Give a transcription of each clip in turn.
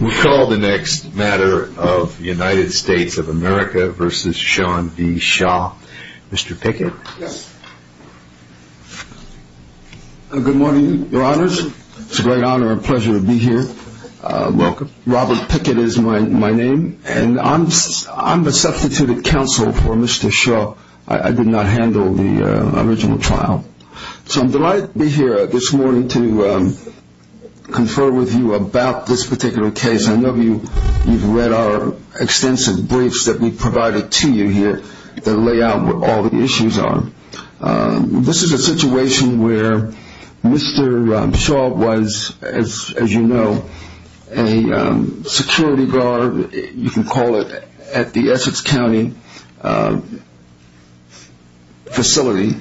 We call the next matter of United States of America v. Sean B. Shaw. Mr. Pickett. Yes. Good morning, your honors. It's a great honor and pleasure to be here. Welcome. Robert Pickett is my name, and I'm the substituted counsel for Mr. Shaw. I did not handle the original trial. So I'm delighted to be here this morning to confer with you about this particular case. I know you've read our extensive briefs that we've provided to you here that lay out what all the issues are. This is a situation where Mr. Shaw was, as you know, a security guard, you can call it, at the Essex County facility.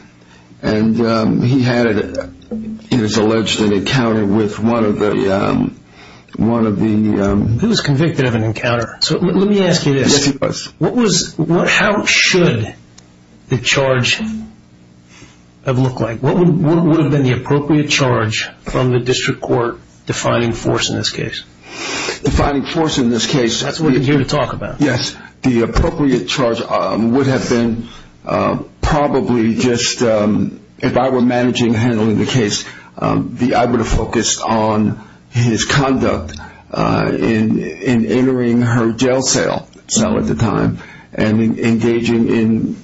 And he had, it is alleged, an encounter with one of the... He was convicted of an encounter. So let me ask you this. Yes, he was. How should the charge have looked like? What would have been the appropriate charge from the district court defining force in this case? Defining force in this case... That's what we're here to talk about. Yes, the appropriate charge would have been probably just, if I were managing handling the case, I would have focused on his conduct in entering her jail cell at the time and engaging in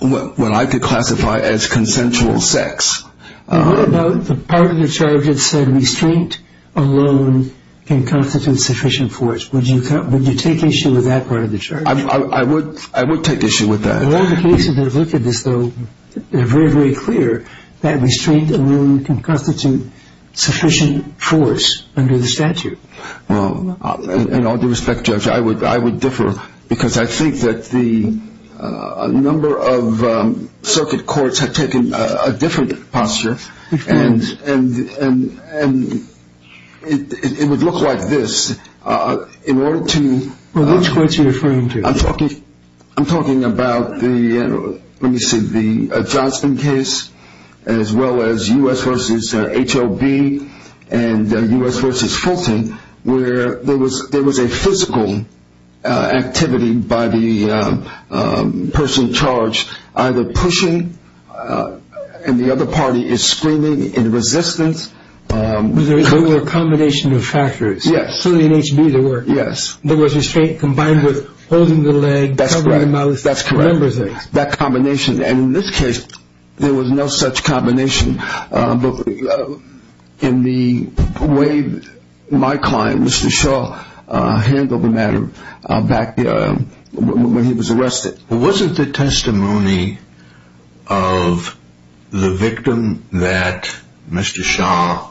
what I could classify as consensual sex. The part of the charge that said restraint alone can constitute sufficient force. Would you take issue with that part of the charge? I would take issue with that. All the cases that have looked at this, though, they're very, very clear that restraint alone can constitute sufficient force under the statute. Well, in all due respect, Judge, I would differ because I think that the number of circuit courts have taken a different posture and it would look like this. In order to... Which courts are you referring to? I'm talking about the, let me see, the Johnston case as well as U.S. versus HLB and U.S. versus Fulton where there was a physical activity by the person charged either pushing and the other party is screaming in resistance. There were a combination of factors. Yes. Certainly in HB there were. Yes. There was restraint combined with holding the leg, covering the mouth, a number of things. That's correct. That combination. And in this case, there was no such combination in the way my client, Mr. Shaw, handled the matter back when he was arrested. Was it the testimony of the victim that Mr. Shaw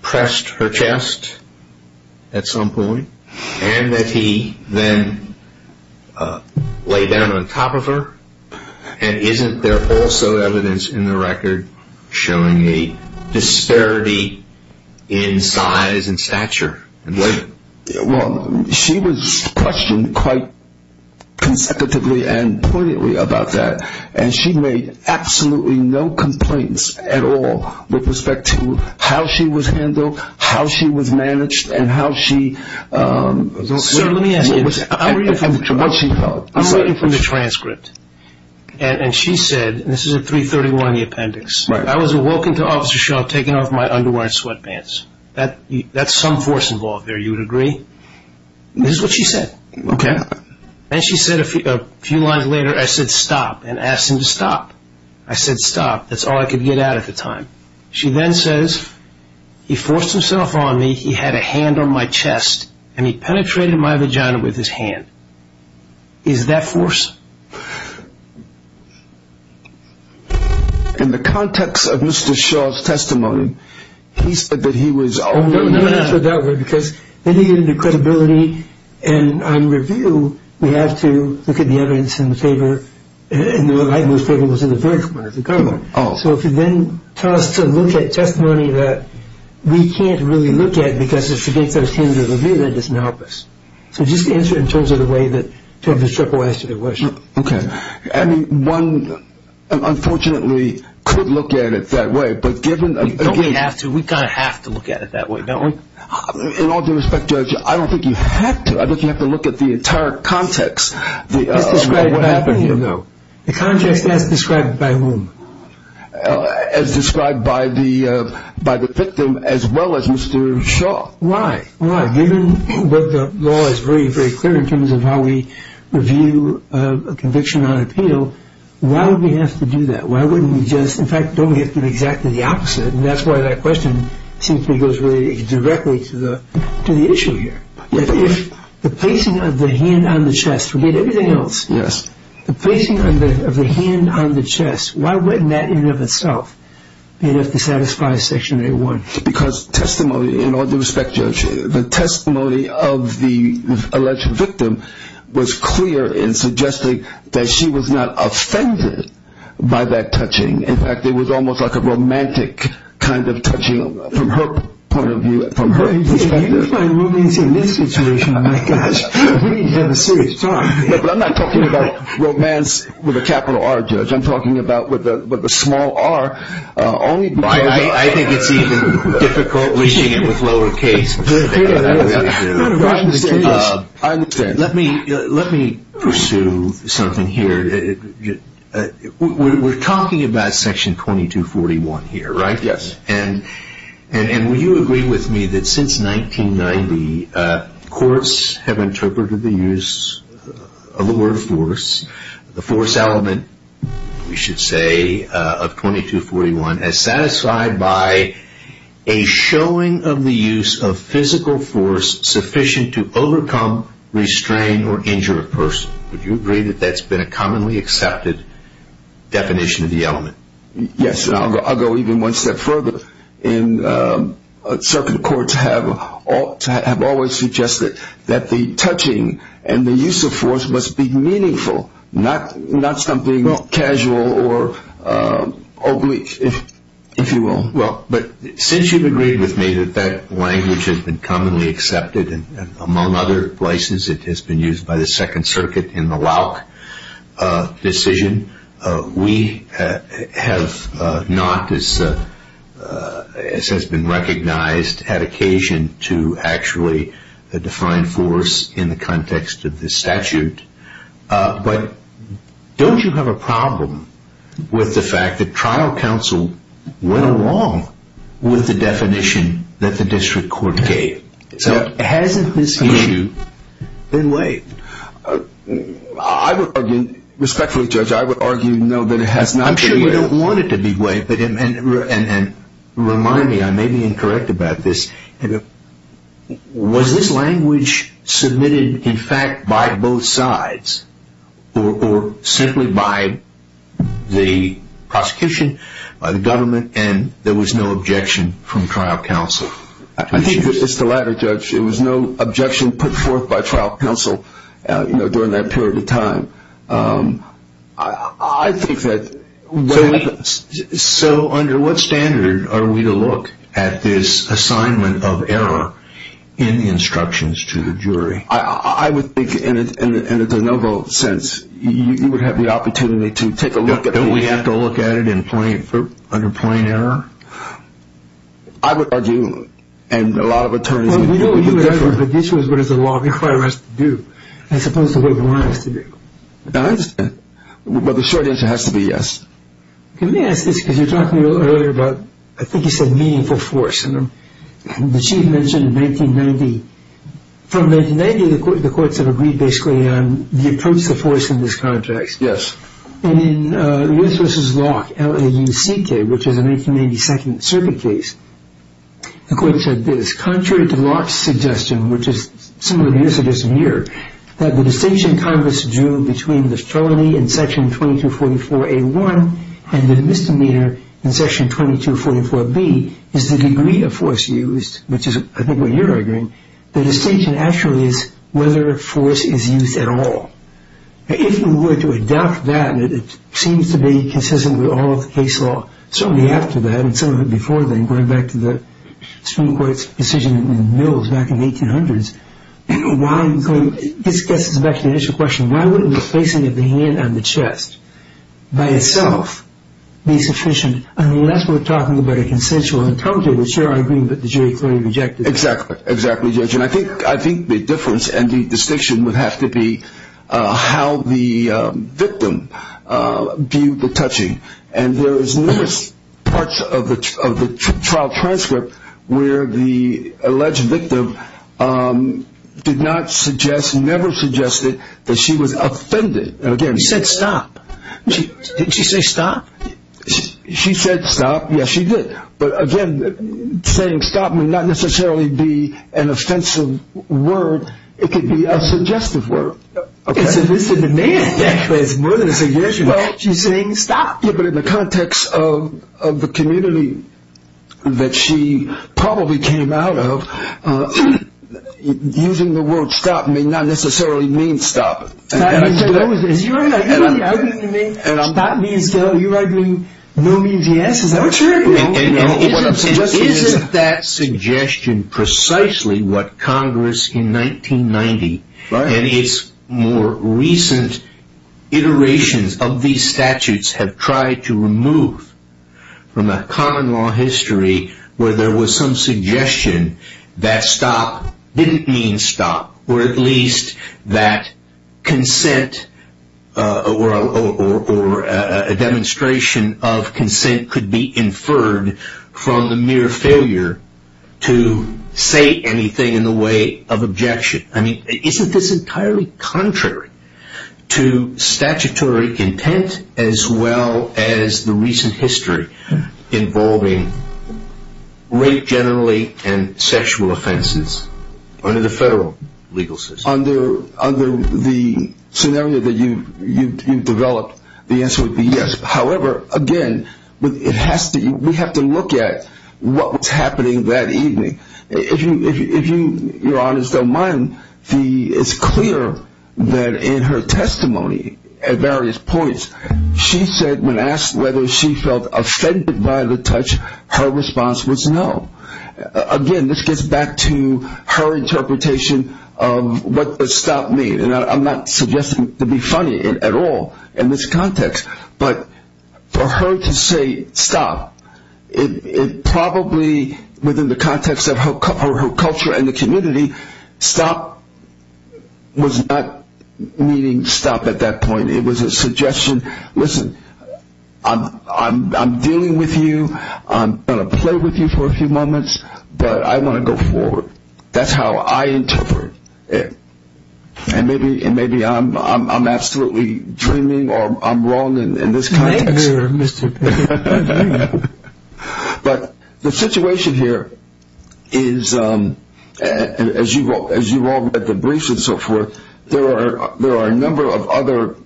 pressed her chest at some point and that he then laid down on top of her? And isn't there also evidence in the record showing a disparity in size and stature? Well, she was questioned quite consecutively and pointedly about that, and she made absolutely no complaints at all with respect to how she was handled, how she was managed, and how she... Sir, let me ask you. I'm reading from the transcript, and she said, and this is at 331 in the appendix, I was awoken to Officer Shaw taking off my underwear and sweatpants. That's some force involved there, you would agree? This is what she said. Okay. Then she said a few lines later, I said, stop, and asked him to stop. I said, stop. That's all I could get at at the time. She then says, he forced himself on me, he had a hand on my chest, and he penetrated my vagina with his hand. Is that force? In the context of Mr. Shaw's testimony, he said that he was... I'm going to answer it that way, because then you get into credibility, and on review we have to look at the evidence in the favor, and the evidence in the favor was in the various parts of the government. Oh. So if you then tell us to look at testimony that we can't really look at because it forgets our standard of review, that doesn't help us. So just answer it in terms of the way that, to have the stripper answer the question. Okay. I mean, one, unfortunately, could look at it that way, but given... Don't we have to? We kind of have to look at it that way, don't we? In all due respect, Judge, I don't think you have to. I think you have to look at the entire context of what happened here. The context as described by whom? As described by the victim as well as Mr. Shaw. Why? Given what the law is very, very clear in terms of how we review a conviction on appeal, why would we have to do that? Why wouldn't we just, in fact, don't we have to do exactly the opposite? And that's why that question seems to go directly to the issue here. If the placing of the hand on the chest, forget everything else, the placing of the hand on the chest, why wouldn't that in and of itself be enough to satisfy Section 8-1? Because testimony, in all due respect, Judge, the testimony of the alleged victim was clear in suggesting that she was not offended by that touching. In fact, it was almost like a romantic kind of touching from her point of view, from her perspective. If you define romance in this situation, my gosh, we need to have a serious talk. No, but I'm not talking about romance with a capital R, Judge. I'm talking about with a small r only because... I think it's even difficult reaching it with lower case. Let me pursue something here. We're talking about Section 2241 here, right? Yes. And will you agree with me that since 1990, courts have interpreted the use of the word force, the force element, we should say, of 2241, as satisfied by a showing of the use of physical force sufficient to overcome, restrain, or injure a person. Would you agree that that's been a commonly accepted definition of the element? Yes, and I'll go even one step further. Circuit courts have always suggested that the touching and the use of force must be meaningful, not something casual or oblique, if you will. Well, but since you've agreed with me that that language has been commonly accepted, and among other places it has been used by the Second Circuit in the Lauck decision, we have not, as has been recognized, had occasion to actually define force in the context of this statute. But don't you have a problem with the fact that trial counsel went along with the definition that the district court gave? Hasn't this issue been weighed? I would argue, respectfully, Judge, I would argue no, that it has not been weighed. I'm sure you don't want it to be weighed, and remind me, I may be incorrect about this, was this language submitted, in fact, by both sides, or simply by the prosecution, by the government, and there was no objection from trial counsel? I think that it's the latter, Judge. There was no objection put forth by trial counsel during that period of time. I think that... So under what standard are we to look at this assignment of error in the instructions to the jury? I would think, in a de novo sense, you would have the opportunity to take a look at the... Don't we have to look at it under plain error? I would argue, and a lot of attorneys... But this is what the law requires us to do, as opposed to what the law has to do. I understand, but the short answer has to be yes. Let me ask this, because you were talking earlier about, I think you said meaningful force, and the Chief mentioned 1990. From 1990, the courts have agreed, basically, on the approach to force in this contract. Yes. And in Lewis v. Locke, L-A-U-C-K, which is a 1992 circuit case, the court said this. Contrary to Locke's suggestion, which is similar to your suggestion here, that the distinction Congress drew between the felony in Section 2244A1 and the misdemeanor in Section 2244B is the degree of force used, which is, I think, what you're arguing, the distinction actually is whether force is used at all. If you were to adopt that, and it seems to be consistent with all of the case law, certainly after that and some of it before then, going back to the Supreme Court's decision in the mills back in the 1800s, this gets us back to the initial question. Why wouldn't the placing of the hand on the chest by itself be sufficient, unless we're talking about a consensual encounter, which you're arguing that the jury clearly rejected? Exactly. Exactly, Judge. I think the difference and the distinction would have to be how the victim viewed the touching. And there is numerous parts of the trial transcript where the alleged victim did not suggest, never suggested that she was offended. She said stop. Did she say stop? She said stop. Yes, she did. But again, saying stop may not necessarily be an offensive word. It could be a suggestive word. It's a demand. It's more than a suggestion. She's saying stop. Yeah, but in the context of the community that she probably came out of, using the word stop may not necessarily mean stop. You're arguing no means yes? Is that what you're arguing? Isn't that suggestion precisely what Congress in 1990 and its more recent iterations of these statutes have tried to remove from a common law history where there was some suggestion that stop didn't mean stop, or at least that consent or a demonstration of consent could be inferred from the mere failure to say anything in the way of objection. I mean, isn't this entirely contrary to statutory intent as well as the recent history involving rape generally and sexual offenses under the federal legal system? Under the scenario that you've developed, the answer would be yes. However, again, we have to look at what was happening that evening. If you're honest, don't mind, it's clear that in her testimony at various points, she said when asked whether she felt offended by the touch, her response was no. Again, this gets back to her interpretation of what does stop mean, and I'm not suggesting it to be funny at all in this context. But for her to say stop, it probably within the context of her culture and the community, stop was not meaning stop at that point. It was a suggestion, listen, I'm dealing with you, I'm going to play with you for a few moments, but I want to go forward. That's how I interpret it. And maybe I'm absolutely dreaming or I'm wrong in this context. Maybe you're mistaken. But the situation here is, as you've all read the briefs and so forth, there are a number of other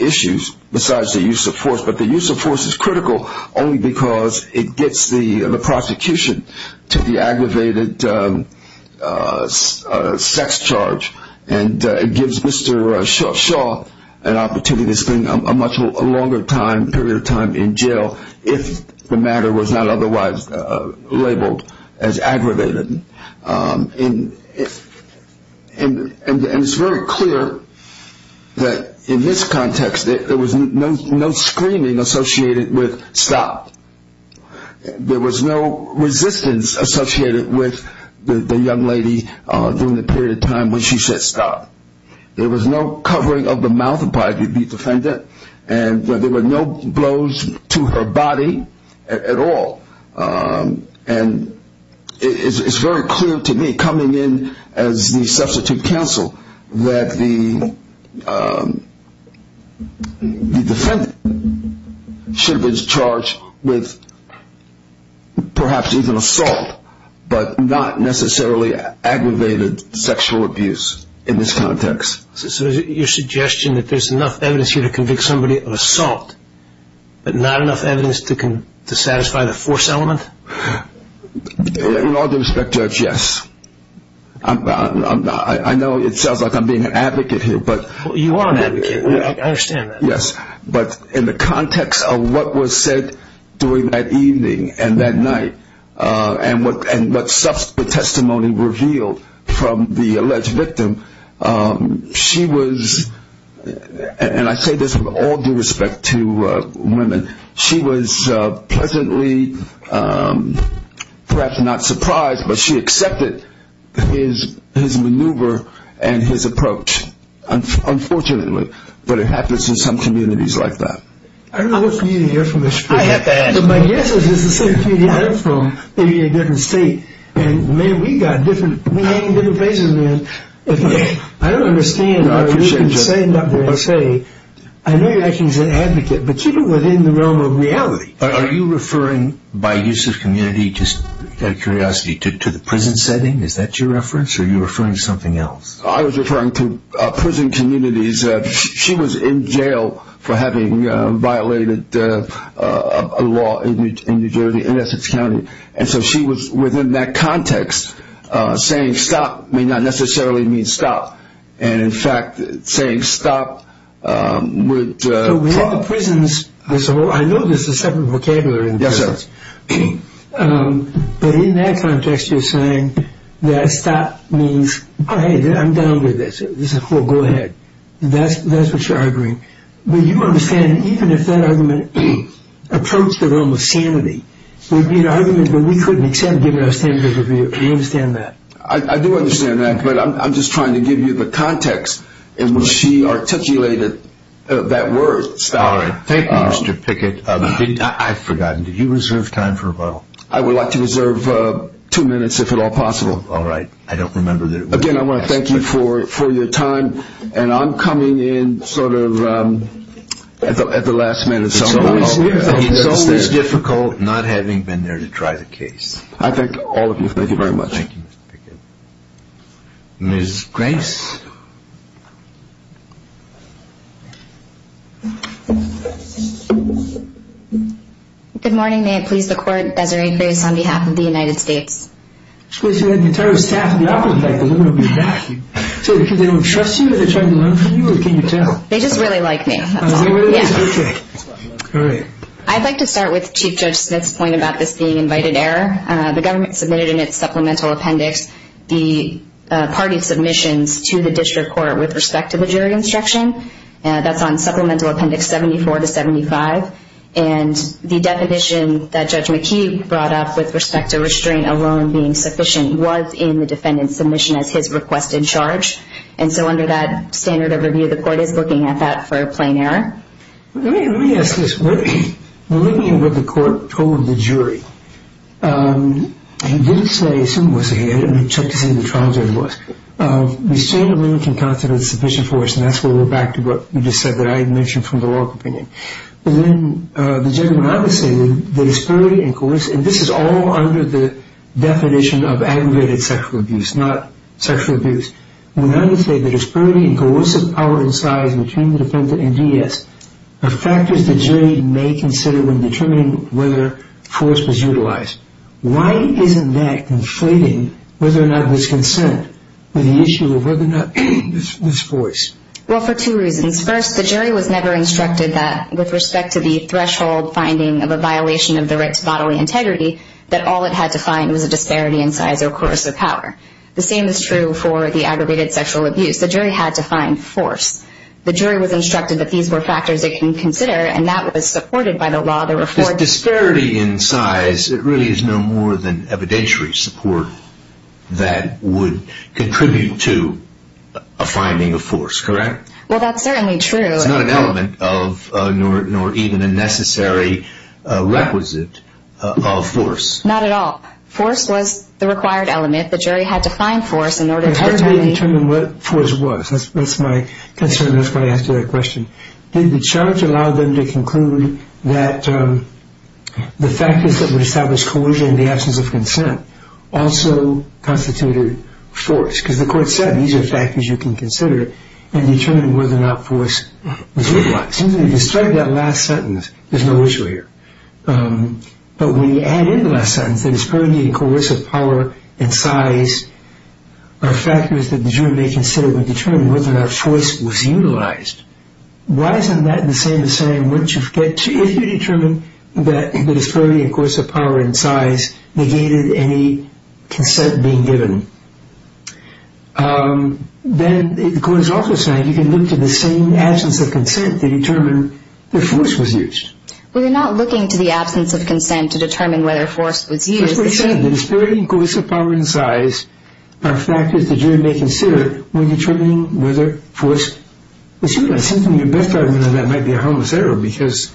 issues besides the use of force, but the use of force is critical only because it gets the prosecution to the aggravated sex charge and it gives Mr. Shaw an opportunity to spend a much longer period of time in jail if the matter was not otherwise labeled as aggravated. And it's very clear that in this context there was no screaming associated with stop. There was no resistance associated with the young lady during the period of time when she said stop. There was no covering of the mouth by the defendant, and there were no blows to her body at all. And it's very clear to me, coming in as the substitute counsel, that the defendant should have been charged with perhaps even assault, but not necessarily aggravated sexual abuse in this context. So your suggestion that there's enough evidence here to convict somebody of assault, but not enough evidence to satisfy the force element? In all due respect, Judge, yes. I know it sounds like I'm being an advocate here. You are an advocate. I understand that. Yes. But in the context of what was said during that evening and that night and what subsequent testimony revealed from the alleged victim, she was, and I say this with all due respect to women, she was pleasantly perhaps not surprised, but she accepted his maneuver and his approach, unfortunately. But it happens in some communities like that. I don't know which community you're from, Mr. Freeman. I have to ask. My guess is it's the same community I'm from, maybe in a different state. And, man, we hang in different places, man. I don't understand how you can stand up there and say, I know you're acting as an advocate, but keep it within the realm of reality. Are you referring by use of community, just out of curiosity, to the prison setting? Is that your reference, or are you referring to something else? I was referring to prison communities. She was in jail for having violated a law in New Jersey, in Essex County. And so she was, within that context, saying stop may not necessarily mean stop. And, in fact, saying stop would... We have the prisons. I know there's a separate vocabulary. Yes, sir. But in that context, you're saying that stop means, oh, hey, I'm done with this. Go ahead. That's what you're arguing. But you understand, even if that argument approached the realm of sanity, it would be an argument that we couldn't accept given our standards of review. Do you understand that? I do understand that. But I'm just trying to give you the context in which she articulated that word, stop. All right. Thank you, Mr. Pickett. I've forgotten. Did you reserve time for a while? I would like to reserve two minutes, if at all possible. All right. I don't remember that... Again, I want to thank you for your time. And I'm coming in sort of at the last minute. It's always difficult not having been there to try the case. I thank all of you. Thank you very much. Thank you, Mr. Pickett. Ms. Grace? Good morning. May it please the Court, Desiree Grace on behalf of the United States. Excuse me. The entire staff in the office is like, the woman will be back. Is it because they don't trust you? Are they trying to learn from you? Or can you tell? They just really like me. Okay. All right. I'd like to start with Chief Judge Smith's point about this being invited error. The government submitted in its supplemental appendix the party submissions to the district court with respect to the jury instruction. That's on supplemental appendix 74 to 75. And the definition that Judge McKee brought up with respect to restraint alone being sufficient was in the defendant's submission as his request in charge. And so under that standard of review, the Court is looking at that for a plain error. Let me ask this. We're looking at what the Court told the jury. It didn't say who was ahead. It took to say the trial jury was. Restraint alone can constitute sufficient force, and that's where we're back to what you just said that I had mentioned from the law opinion. But then the judgment I was saying, the disparity and coercion, this is all under the definition of aggregated sexual abuse, not sexual abuse. We understand the disparity and coercive power and size between the defendant and D.S. are factors the jury may consider when determining whether force was utilized. Why isn't that conflating whether or not there's consent with the issue of whether or not there's force? Well, for two reasons. First, the jury was never instructed that with respect to the threshold finding of a violation of the right to bodily integrity that all it had to find was a disparity in size or coercive power. The same is true for the aggregated sexual abuse. The jury had to find force. The jury was instructed that these were factors it can consider, and that was supported by the law. This disparity in size, it really is no more than evidentiary support that would contribute to a finding of force, correct? Well, that's certainly true. It's not an element of nor even a necessary requisite of force. Not at all. Force was the required element. And if the jury had to find force in order to determine what force was, that's my concern. That's why I asked you that question. Did the charge allow them to conclude that the factors that would establish coercion in the absence of consent also constituted force? Because the court said these are factors you can consider in determining whether or not force was utilized. You can strike that last sentence. There's no issue here. But when you add in the last sentence, the disparity in coercive power and size are factors that the jury may consider when determining whether or not force was utilized. Why isn't that the same as saying, if you determine that the disparity in coercive power and size negated any consent being given, then the court is also saying you can look to the same absence of consent to determine if force was used. Well, you're not looking to the absence of consent to determine whether force was used. As we said, the disparity in coercive power and size are factors the jury may consider when determining whether force was utilized. And your best argument on that might be a harmless error because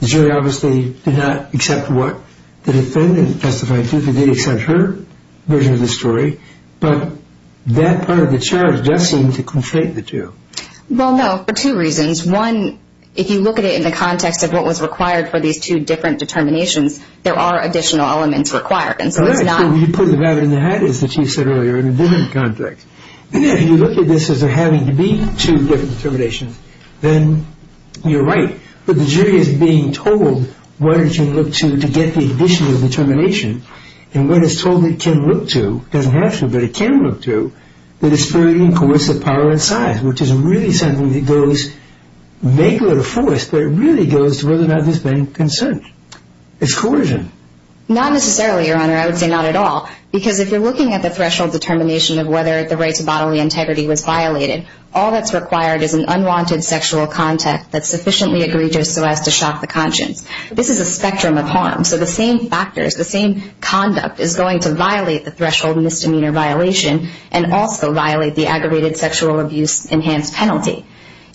the jury obviously did not accept what the defendant testified to. They did accept her version of the story. But that part of the charge does seem to conflate the two. Well, no, for two reasons. One, if you look at it in the context of what was required for these two different determinations, there are additional elements required. And so it's not... Well, that's where you put the rabbit in the hat, as the Chief said earlier, in a different context. If you look at this as there having to be two different determinations, then you're right. But the jury is being told, why don't you look to get the additional determination? And what it's told it can look to doesn't have to, but it can look to, the disparity in coercive power and size, which is really something that goes, may go to force, but it really goes to whether or not there's been consent. It's coercion. Not necessarily, Your Honor. I would say not at all. Because if you're looking at the threshold determination of whether the right to bodily integrity was violated, all that's required is an unwanted sexual contact that's sufficiently egregious so as to shock the conscience. This is a spectrum of harm. So the same factors, the same conduct is going to violate the threshold of misdemeanor violation and also violate the aggravated sexual abuse enhanced penalty.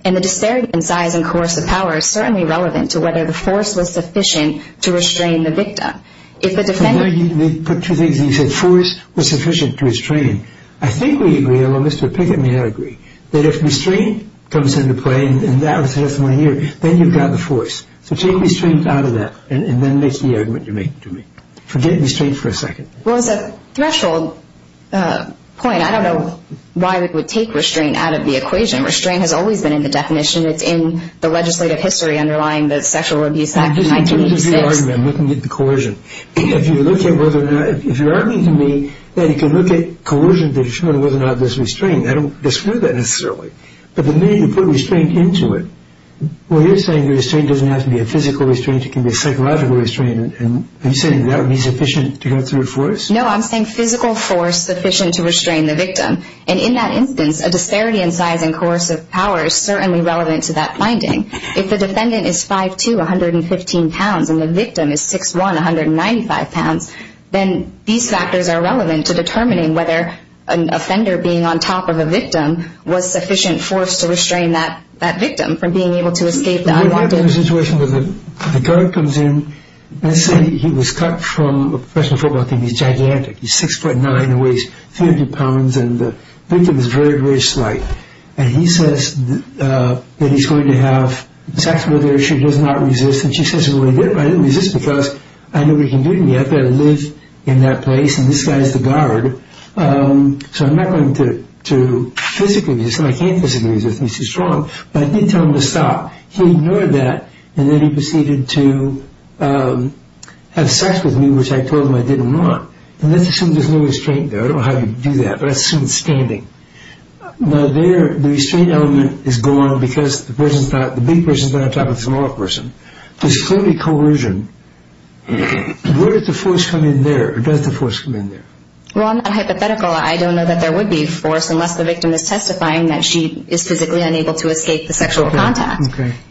And the disparity in size and coercive power is certainly relevant to whether the force was sufficient to restrain the victim. If the defendant... The way you put two things, you said force was sufficient to restrain. I think we agree, although Mr. Pickett may not agree, that if restraint comes into play, and that was definitely here, then you've got the force. So take restraint out of that and then make the argument you're making to me. Forget restraint for a second. Well, as a threshold point, I don't know why we would take restraint out of the equation. Restraint has always been in the definition. It's in the legislative history underlying the Sexual Abuse Act of 1986. This is your argument. I'm looking at the coercion. If you look at whether or not... If you're arguing to me that you can look at coercion to determine whether or not there's restraint, I don't disprove that necessarily. But the minute you put restraint into it... Well, you're saying restraint doesn't have to be a physical restraint. It can be a psychological restraint. Are you saying that would be sufficient to go through with force? No, I'm saying physical force sufficient to restrain the victim. And in that instance, a disparity in size and coercive power is certainly relevant to that finding. If the defendant is 5'2", 115 pounds, and the victim is 6'1", 195 pounds, then these factors are relevant to determining whether an offender being on top of a victim was sufficient force to restrain that victim from being able to escape the IWD. I've had a situation where the guard comes in. Let's say he was cut from a professional football team. He's gigantic. He's 6'9". He weighs 50 pounds. And the victim is very, very slight. And he says that he's going to have sex with her. She does not resist. And she says, well, I didn't resist because I know what you can do to me. I've got to live in that place. And this guy's the guard. So I'm not going to physically resist. I can't physically resist. He's too strong. But I did tell him to stop. He ignored that. And then he proceeded to have sex with me, which I told him I didn't want. And let's assume there's no restraint there. I don't know how you do that, but let's assume it's standing. Now, the restraint element is gone because the big person is on top of the small person. There's clearly coercion. Where does the force come in there? Or does the force come in there? Well, I'm not hypothetical. I don't know that there would be force unless the victim is testifying that she is physically unable to escape the sexual contact.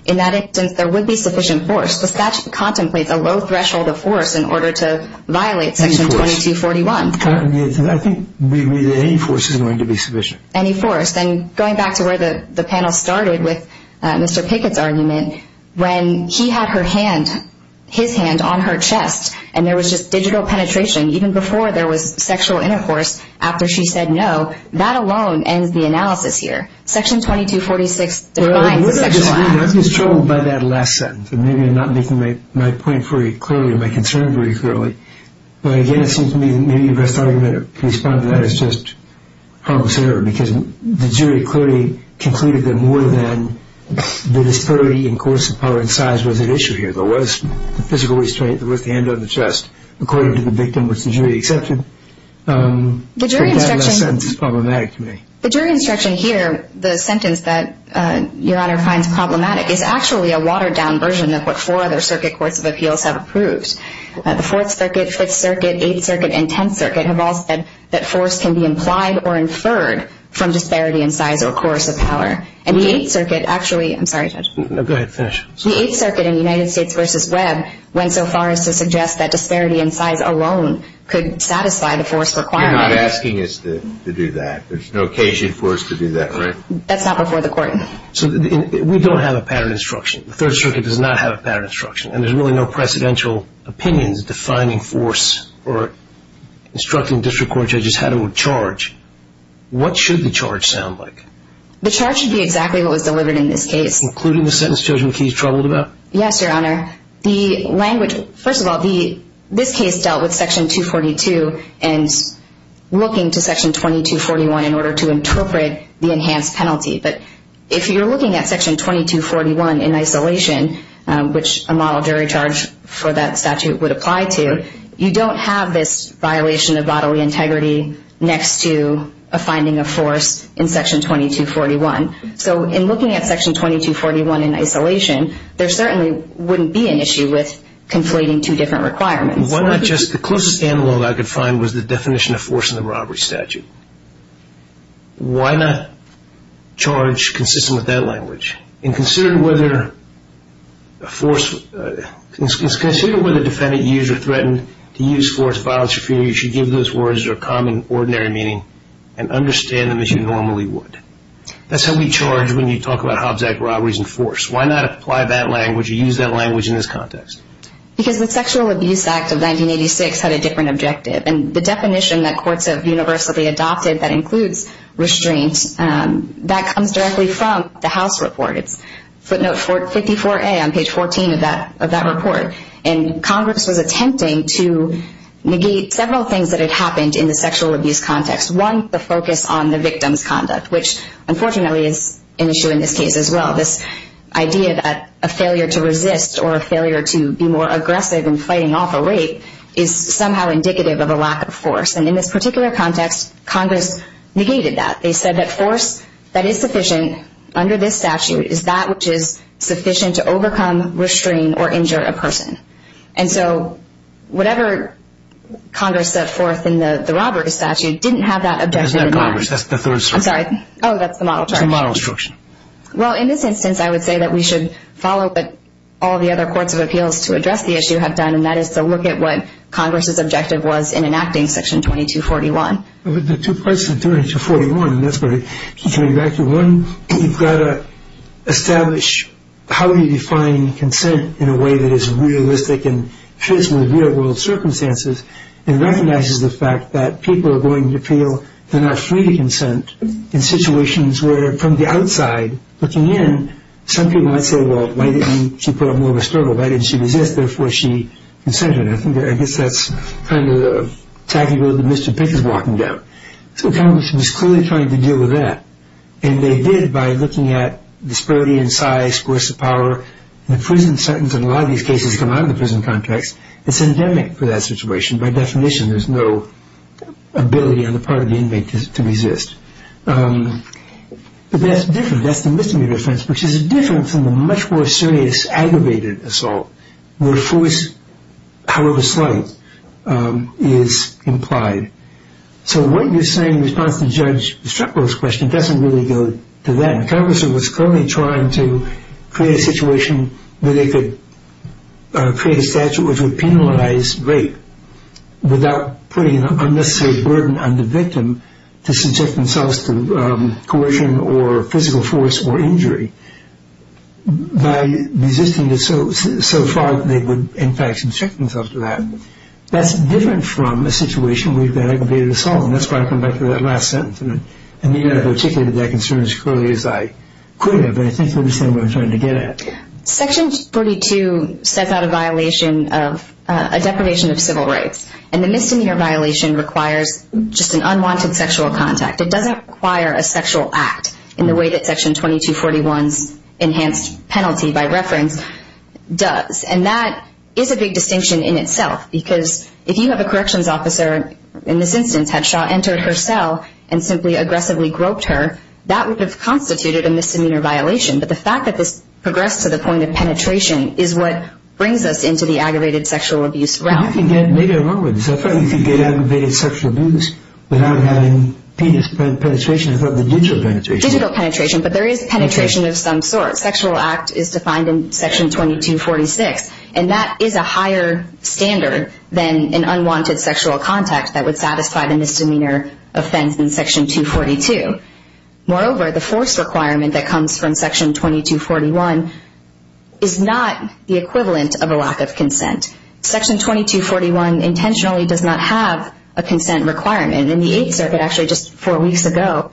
In that instance, there would be sufficient force. The statute contemplates a low threshold of force in order to violate Section 2241. I think any force is going to be sufficient. Any force. And going back to where the panel started with Mr. Pickett's argument, when he had his hand on her chest and there was just digital penetration, even before there was sexual intercourse, after she said no, that alone ends the analysis here. Section 2246 defines sexual acts. I'm just troubled by that last sentence. Maybe I'm not making my point very clearly or my concern very clearly. But, again, it seems to me that maybe the best argument to respond to that is just harmless error because the jury clearly concluded that more than the disparity in course of power and size was at issue here. There was physical restraint. There was the hand on the chest, according to the victim, which the jury accepted. But that last sentence is problematic to me. The jury instruction here, the sentence that Your Honor finds problematic, is actually a watered-down version of what four other circuit courts of appeals have approved. The Fourth Circuit, Fifth Circuit, Eighth Circuit, and Tenth Circuit have all said that force can be implied or inferred from disparity in size or course of power. And the Eighth Circuit actually – I'm sorry, Judge. No, go ahead. Finish. The Eighth Circuit in United States v. Webb went so far as to suggest that disparity in size alone could satisfy the force requirement. You're not asking us to do that. There's no occasion for us to do that, right? That's not before the court. So we don't have a pattern instruction. The Third Circuit does not have a pattern instruction, and there's really no precedential opinions defining force or instructing district court judges how to charge. What should the charge sound like? The charge should be exactly what was delivered in this case. Including the sentence Judge McKee's troubled about? Yes, Your Honor. First of all, this case dealt with Section 242 and looking to Section 2241 in order to interpret the enhanced penalty. But if you're looking at Section 2241 in isolation, which a model jury charge for that statute would apply to, you don't have this violation of bodily integrity next to a finding of force in Section 2241. So in looking at Section 2241 in isolation, there certainly wouldn't be an issue with conflating two different requirements. The closest analog I could find was the definition of force in the robbery statute. Why not charge consistent with that language? And consider whether a defendant used or threatened to use force, violence, or fear. You should give those words their common, ordinary meaning and understand them as you normally would. That's how we charge when you talk about Hobbs Act robberies and force. Why not apply that language or use that language in this context? Because the Sexual Abuse Act of 1986 had a different objective. And the definition that courts have universally adopted that includes restraint, that comes directly from the House report. It's footnote 54A on page 14 of that report. And Congress was attempting to negate several things that had happened in the sexual abuse context. One, the focus on the victim's conduct, which unfortunately is an issue in this case as well. This idea that a failure to resist or a failure to be more aggressive in fighting off a rape is somehow indicative of a lack of force. And in this particular context, Congress negated that. They said that force that is sufficient under this statute is that which is sufficient to overcome, restrain, or injure a person. And so whatever Congress set forth in the robbery statute didn't have that objective in mind. That's not Congress. That's the Third Circuit. I'm sorry. Oh, that's the model charge. It's a model instruction. Well, in this instance, I would say that we should follow what all the other courts of appeals to address the issue have done, and that is to look at what Congress's objective was in enacting Section 2241. The two parts of 2241, and that's where you came back to one, you've got to establish how you define consent in a way that is realistic and fits with real-world circumstances and recognizes the fact that people are going to appeal, they're not free to consent in situations where from the outside, looking in, some people might say, well, why didn't she put up more of a struggle? Why didn't she resist? Therefore, she consented. I guess that's kind of the tacky road that Mr. Pick is walking down. So Congress was clearly trying to deal with that, and they did by looking at disparity in size, force of power. The prison sentence in a lot of these cases come out of the prison context. It's endemic for that situation. By definition, there's no ability on the part of the inmate to resist. But that's different. That's the misdemeanor offense, which is different from the much more serious, aggravated assault where force, however slight, is implied. So what you're saying in response to Judge Strickler's question doesn't really go to that. Congress was clearly trying to create a situation where they could create a statute which would penalize rape without putting an unnecessary burden on the victim to subject themselves to coercion or physical force or injury by resisting it so far that they would, in fact, subject themselves to that. That's different from a situation where you've got aggravated assault, and that's why I come back to that last sentence. And you know, I've articulated that concern as clearly as I could have, and I think you understand what I'm trying to get at. Section 42 sets out a violation of a deprivation of civil rights, and the misdemeanor violation requires just an unwanted sexual contact. It doesn't require a sexual act in the way that Section 2241's enhanced penalty, by reference, does. And that is a big distinction in itself because if you have a corrections officer, in this instance, had Shaw entered her cell and simply aggressively groped her, that would have constituted a misdemeanor violation. But the fact that this progressed to the point of penetration is what brings us into the aggravated sexual abuse realm. You can get aggravated sexual abuse without having penis penetration, without the digital penetration. Digital penetration, but there is penetration of some sort. Sexual act is defined in Section 2246, and that is a higher standard than an unwanted sexual contact that would satisfy the misdemeanor offense in Section 242. Moreover, the force requirement that comes from Section 2241 is not the equivalent of a lack of consent. Section 2241 intentionally does not have a consent requirement. And the Eighth Circuit, actually just four weeks ago,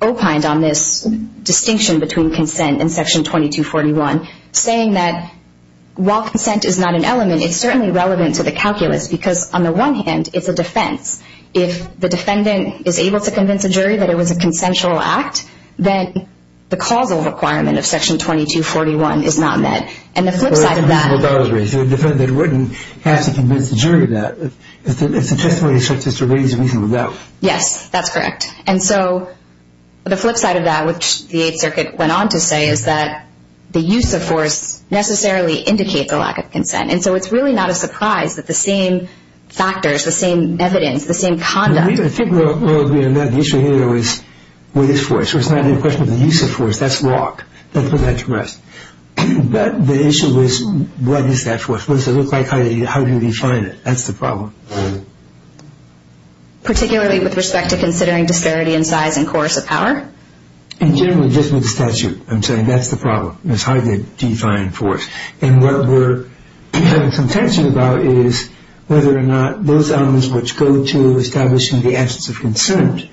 opined on this distinction between consent and Section 2241, saying that while consent is not an element, it's certainly relevant to the calculus because, on the one hand, it's a defense. If the defendant is able to convince a jury that it was a consensual act, then the causal requirement of Section 2241 is not met. And the flip side of that... Well, that's a reasonable doubt to raise. The defendant wouldn't have to convince the jury of that. It's a testimony that's just a reasonable doubt. Yes, that's correct. And so the flip side of that, which the Eighth Circuit went on to say, is that the use of force necessarily indicates a lack of consent. And so it's really not a surprise that the same factors, the same evidence, the same conduct... I think the issue here is what is force? It's not a question of the use of force. That's law. That's what's at risk. But the issue is what is that force? What does it look like? How do you define it? That's the problem. Particularly with respect to considering disparity in size and course of power? In general, just with the statute, I'm saying that's the problem. It's hard to define force. And what we're having some tension about is whether or not those elements which go to establishing the absence of consent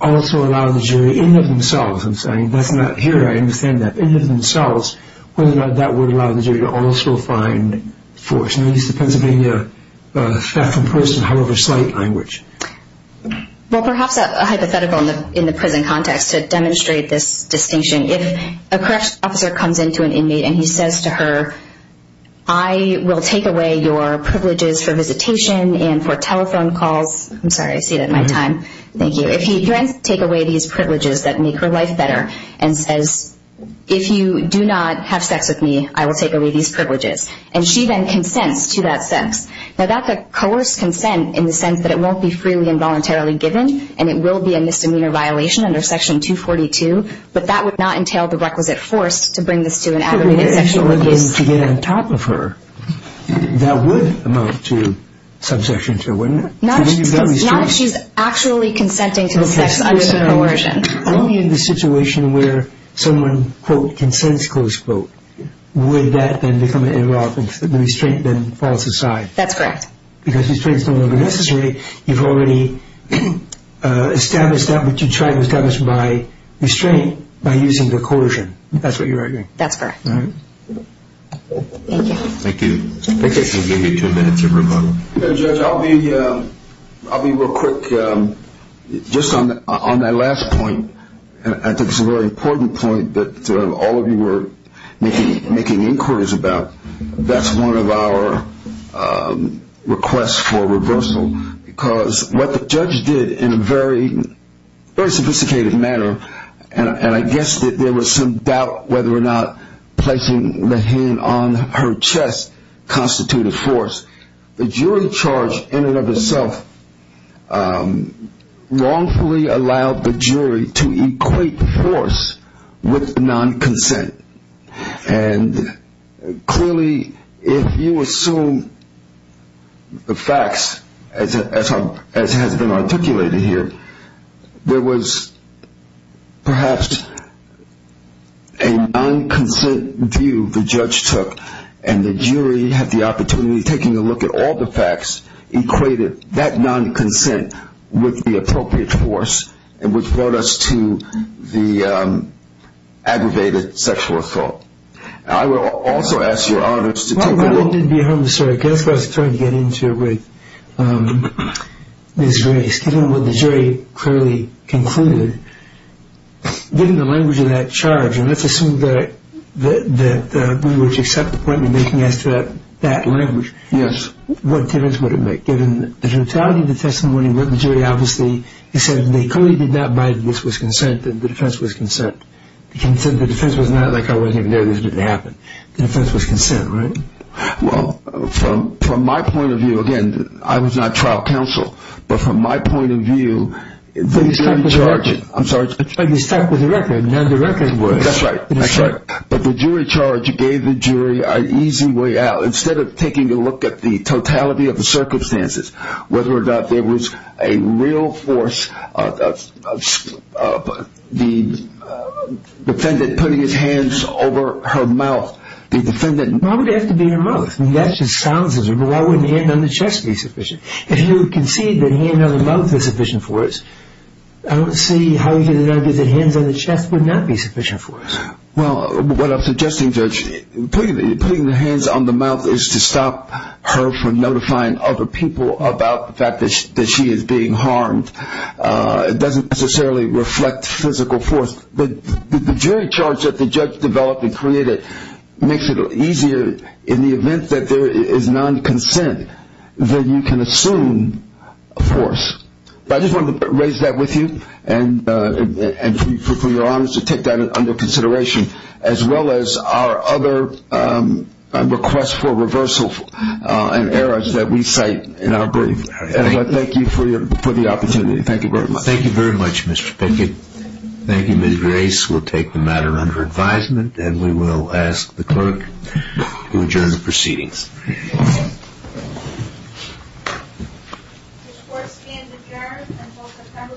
also allow the jury in of themselves. That's not here. I understand that. In of themselves, whether or not that would allow the jury to also find force. The question is, is the Pennsylvania theft and poaching however slight language? Well, perhaps a hypothetical in the prison context to demonstrate this distinction. If a corrections officer comes in to an inmate and he says to her, I will take away your privileges for visitation and for telephone calls, I'm sorry, I see it in my time, thank you. If he can take away these privileges that make her life better and says, if you do not have sex with me, I will take away these privileges, and she then consents to that sex. Now, that's a coerced consent in the sense that it won't be freely and voluntarily given and it will be a misdemeanor violation under Section 242, but that would not entail the requisite force to bring this to an aggravated sexual abuse. To get on top of her, that would amount to subsection 2, wouldn't it? Not if she's actually consenting to the sex under the coercion. Only in the situation where someone, quote, consents, close quote, would that then become irrelevant, the restraint then falls aside. That's correct. Because restraint is no longer necessary. You've already established that, but you try to establish my restraint by using the coercion. That's what you're arguing. That's correct. All right. Thank you. Thank you. We'll give you two minutes of rebuttal. Judge, I'll be real quick just on that last point. I think it's a very important point that all of you were making inquiries about. That's one of our requests for reversal because what the judge did in a very sophisticated manner, and I guess that there was some doubt whether or not placing the hand on her chest constituted force, the jury charge in and of itself wrongfully allowed the jury to equate force with non-consent. And clearly if you assume the facts as has been articulated here, there was perhaps a non-consent view the judge took, and the jury had the opportunity of taking a look at all the facts, equated that non-consent with the appropriate force, and which brought us to the aggravated sexual assault. I will also ask your honors to take a look. Well, it didn't harm the story. That's what I was trying to get into with Ms. Grace. Given what the jury clearly concluded, given the language of that charge, and let's assume that we would accept the point you're making as to that language, what difference would it make? Given the totality of the testimony, what the jury obviously said, they clearly did not buy that this was consent, that the defense was consent. The defense was not like I wasn't even there, this didn't happen. The defense was consent, right? Well, from my point of view, again, I was not trial counsel, but from my point of view, I'm sorry. But you're stuck with the record, and the record was. That's right, that's right. But the jury charge gave the jury an easy way out. Instead of taking a look at the totality of the circumstances, whether or not there was a real force of the defendant putting his hands over her mouth, the defendant Why would it have to be her mouth? I mean, that just silences her. Why wouldn't the hand on the chest be sufficient? If you concede that hand on the mouth is sufficient force, I don't see how you get an idea that hands on the chest would not be sufficient force. Well, what I'm suggesting, Judge, putting the hands on the mouth is to stop her from notifying other people about the fact that she is being harmed. It doesn't necessarily reflect physical force. But the jury charge that the judge developed and created makes it easier in the event that there is non-consent, that you can assume force. I just wanted to raise that with you and for your honors to take that under consideration, as well as our other requests for reversal and errors that we cite in our brief. And I thank you for the opportunity. Thank you very much. Thank you very much, Mr. Pickett. Thank you, Ms. Grace. We'll take the matter under advisement, and we will ask the clerk to adjourn the proceedings. The court stands adjourned until September 27th at 9.30 a.m.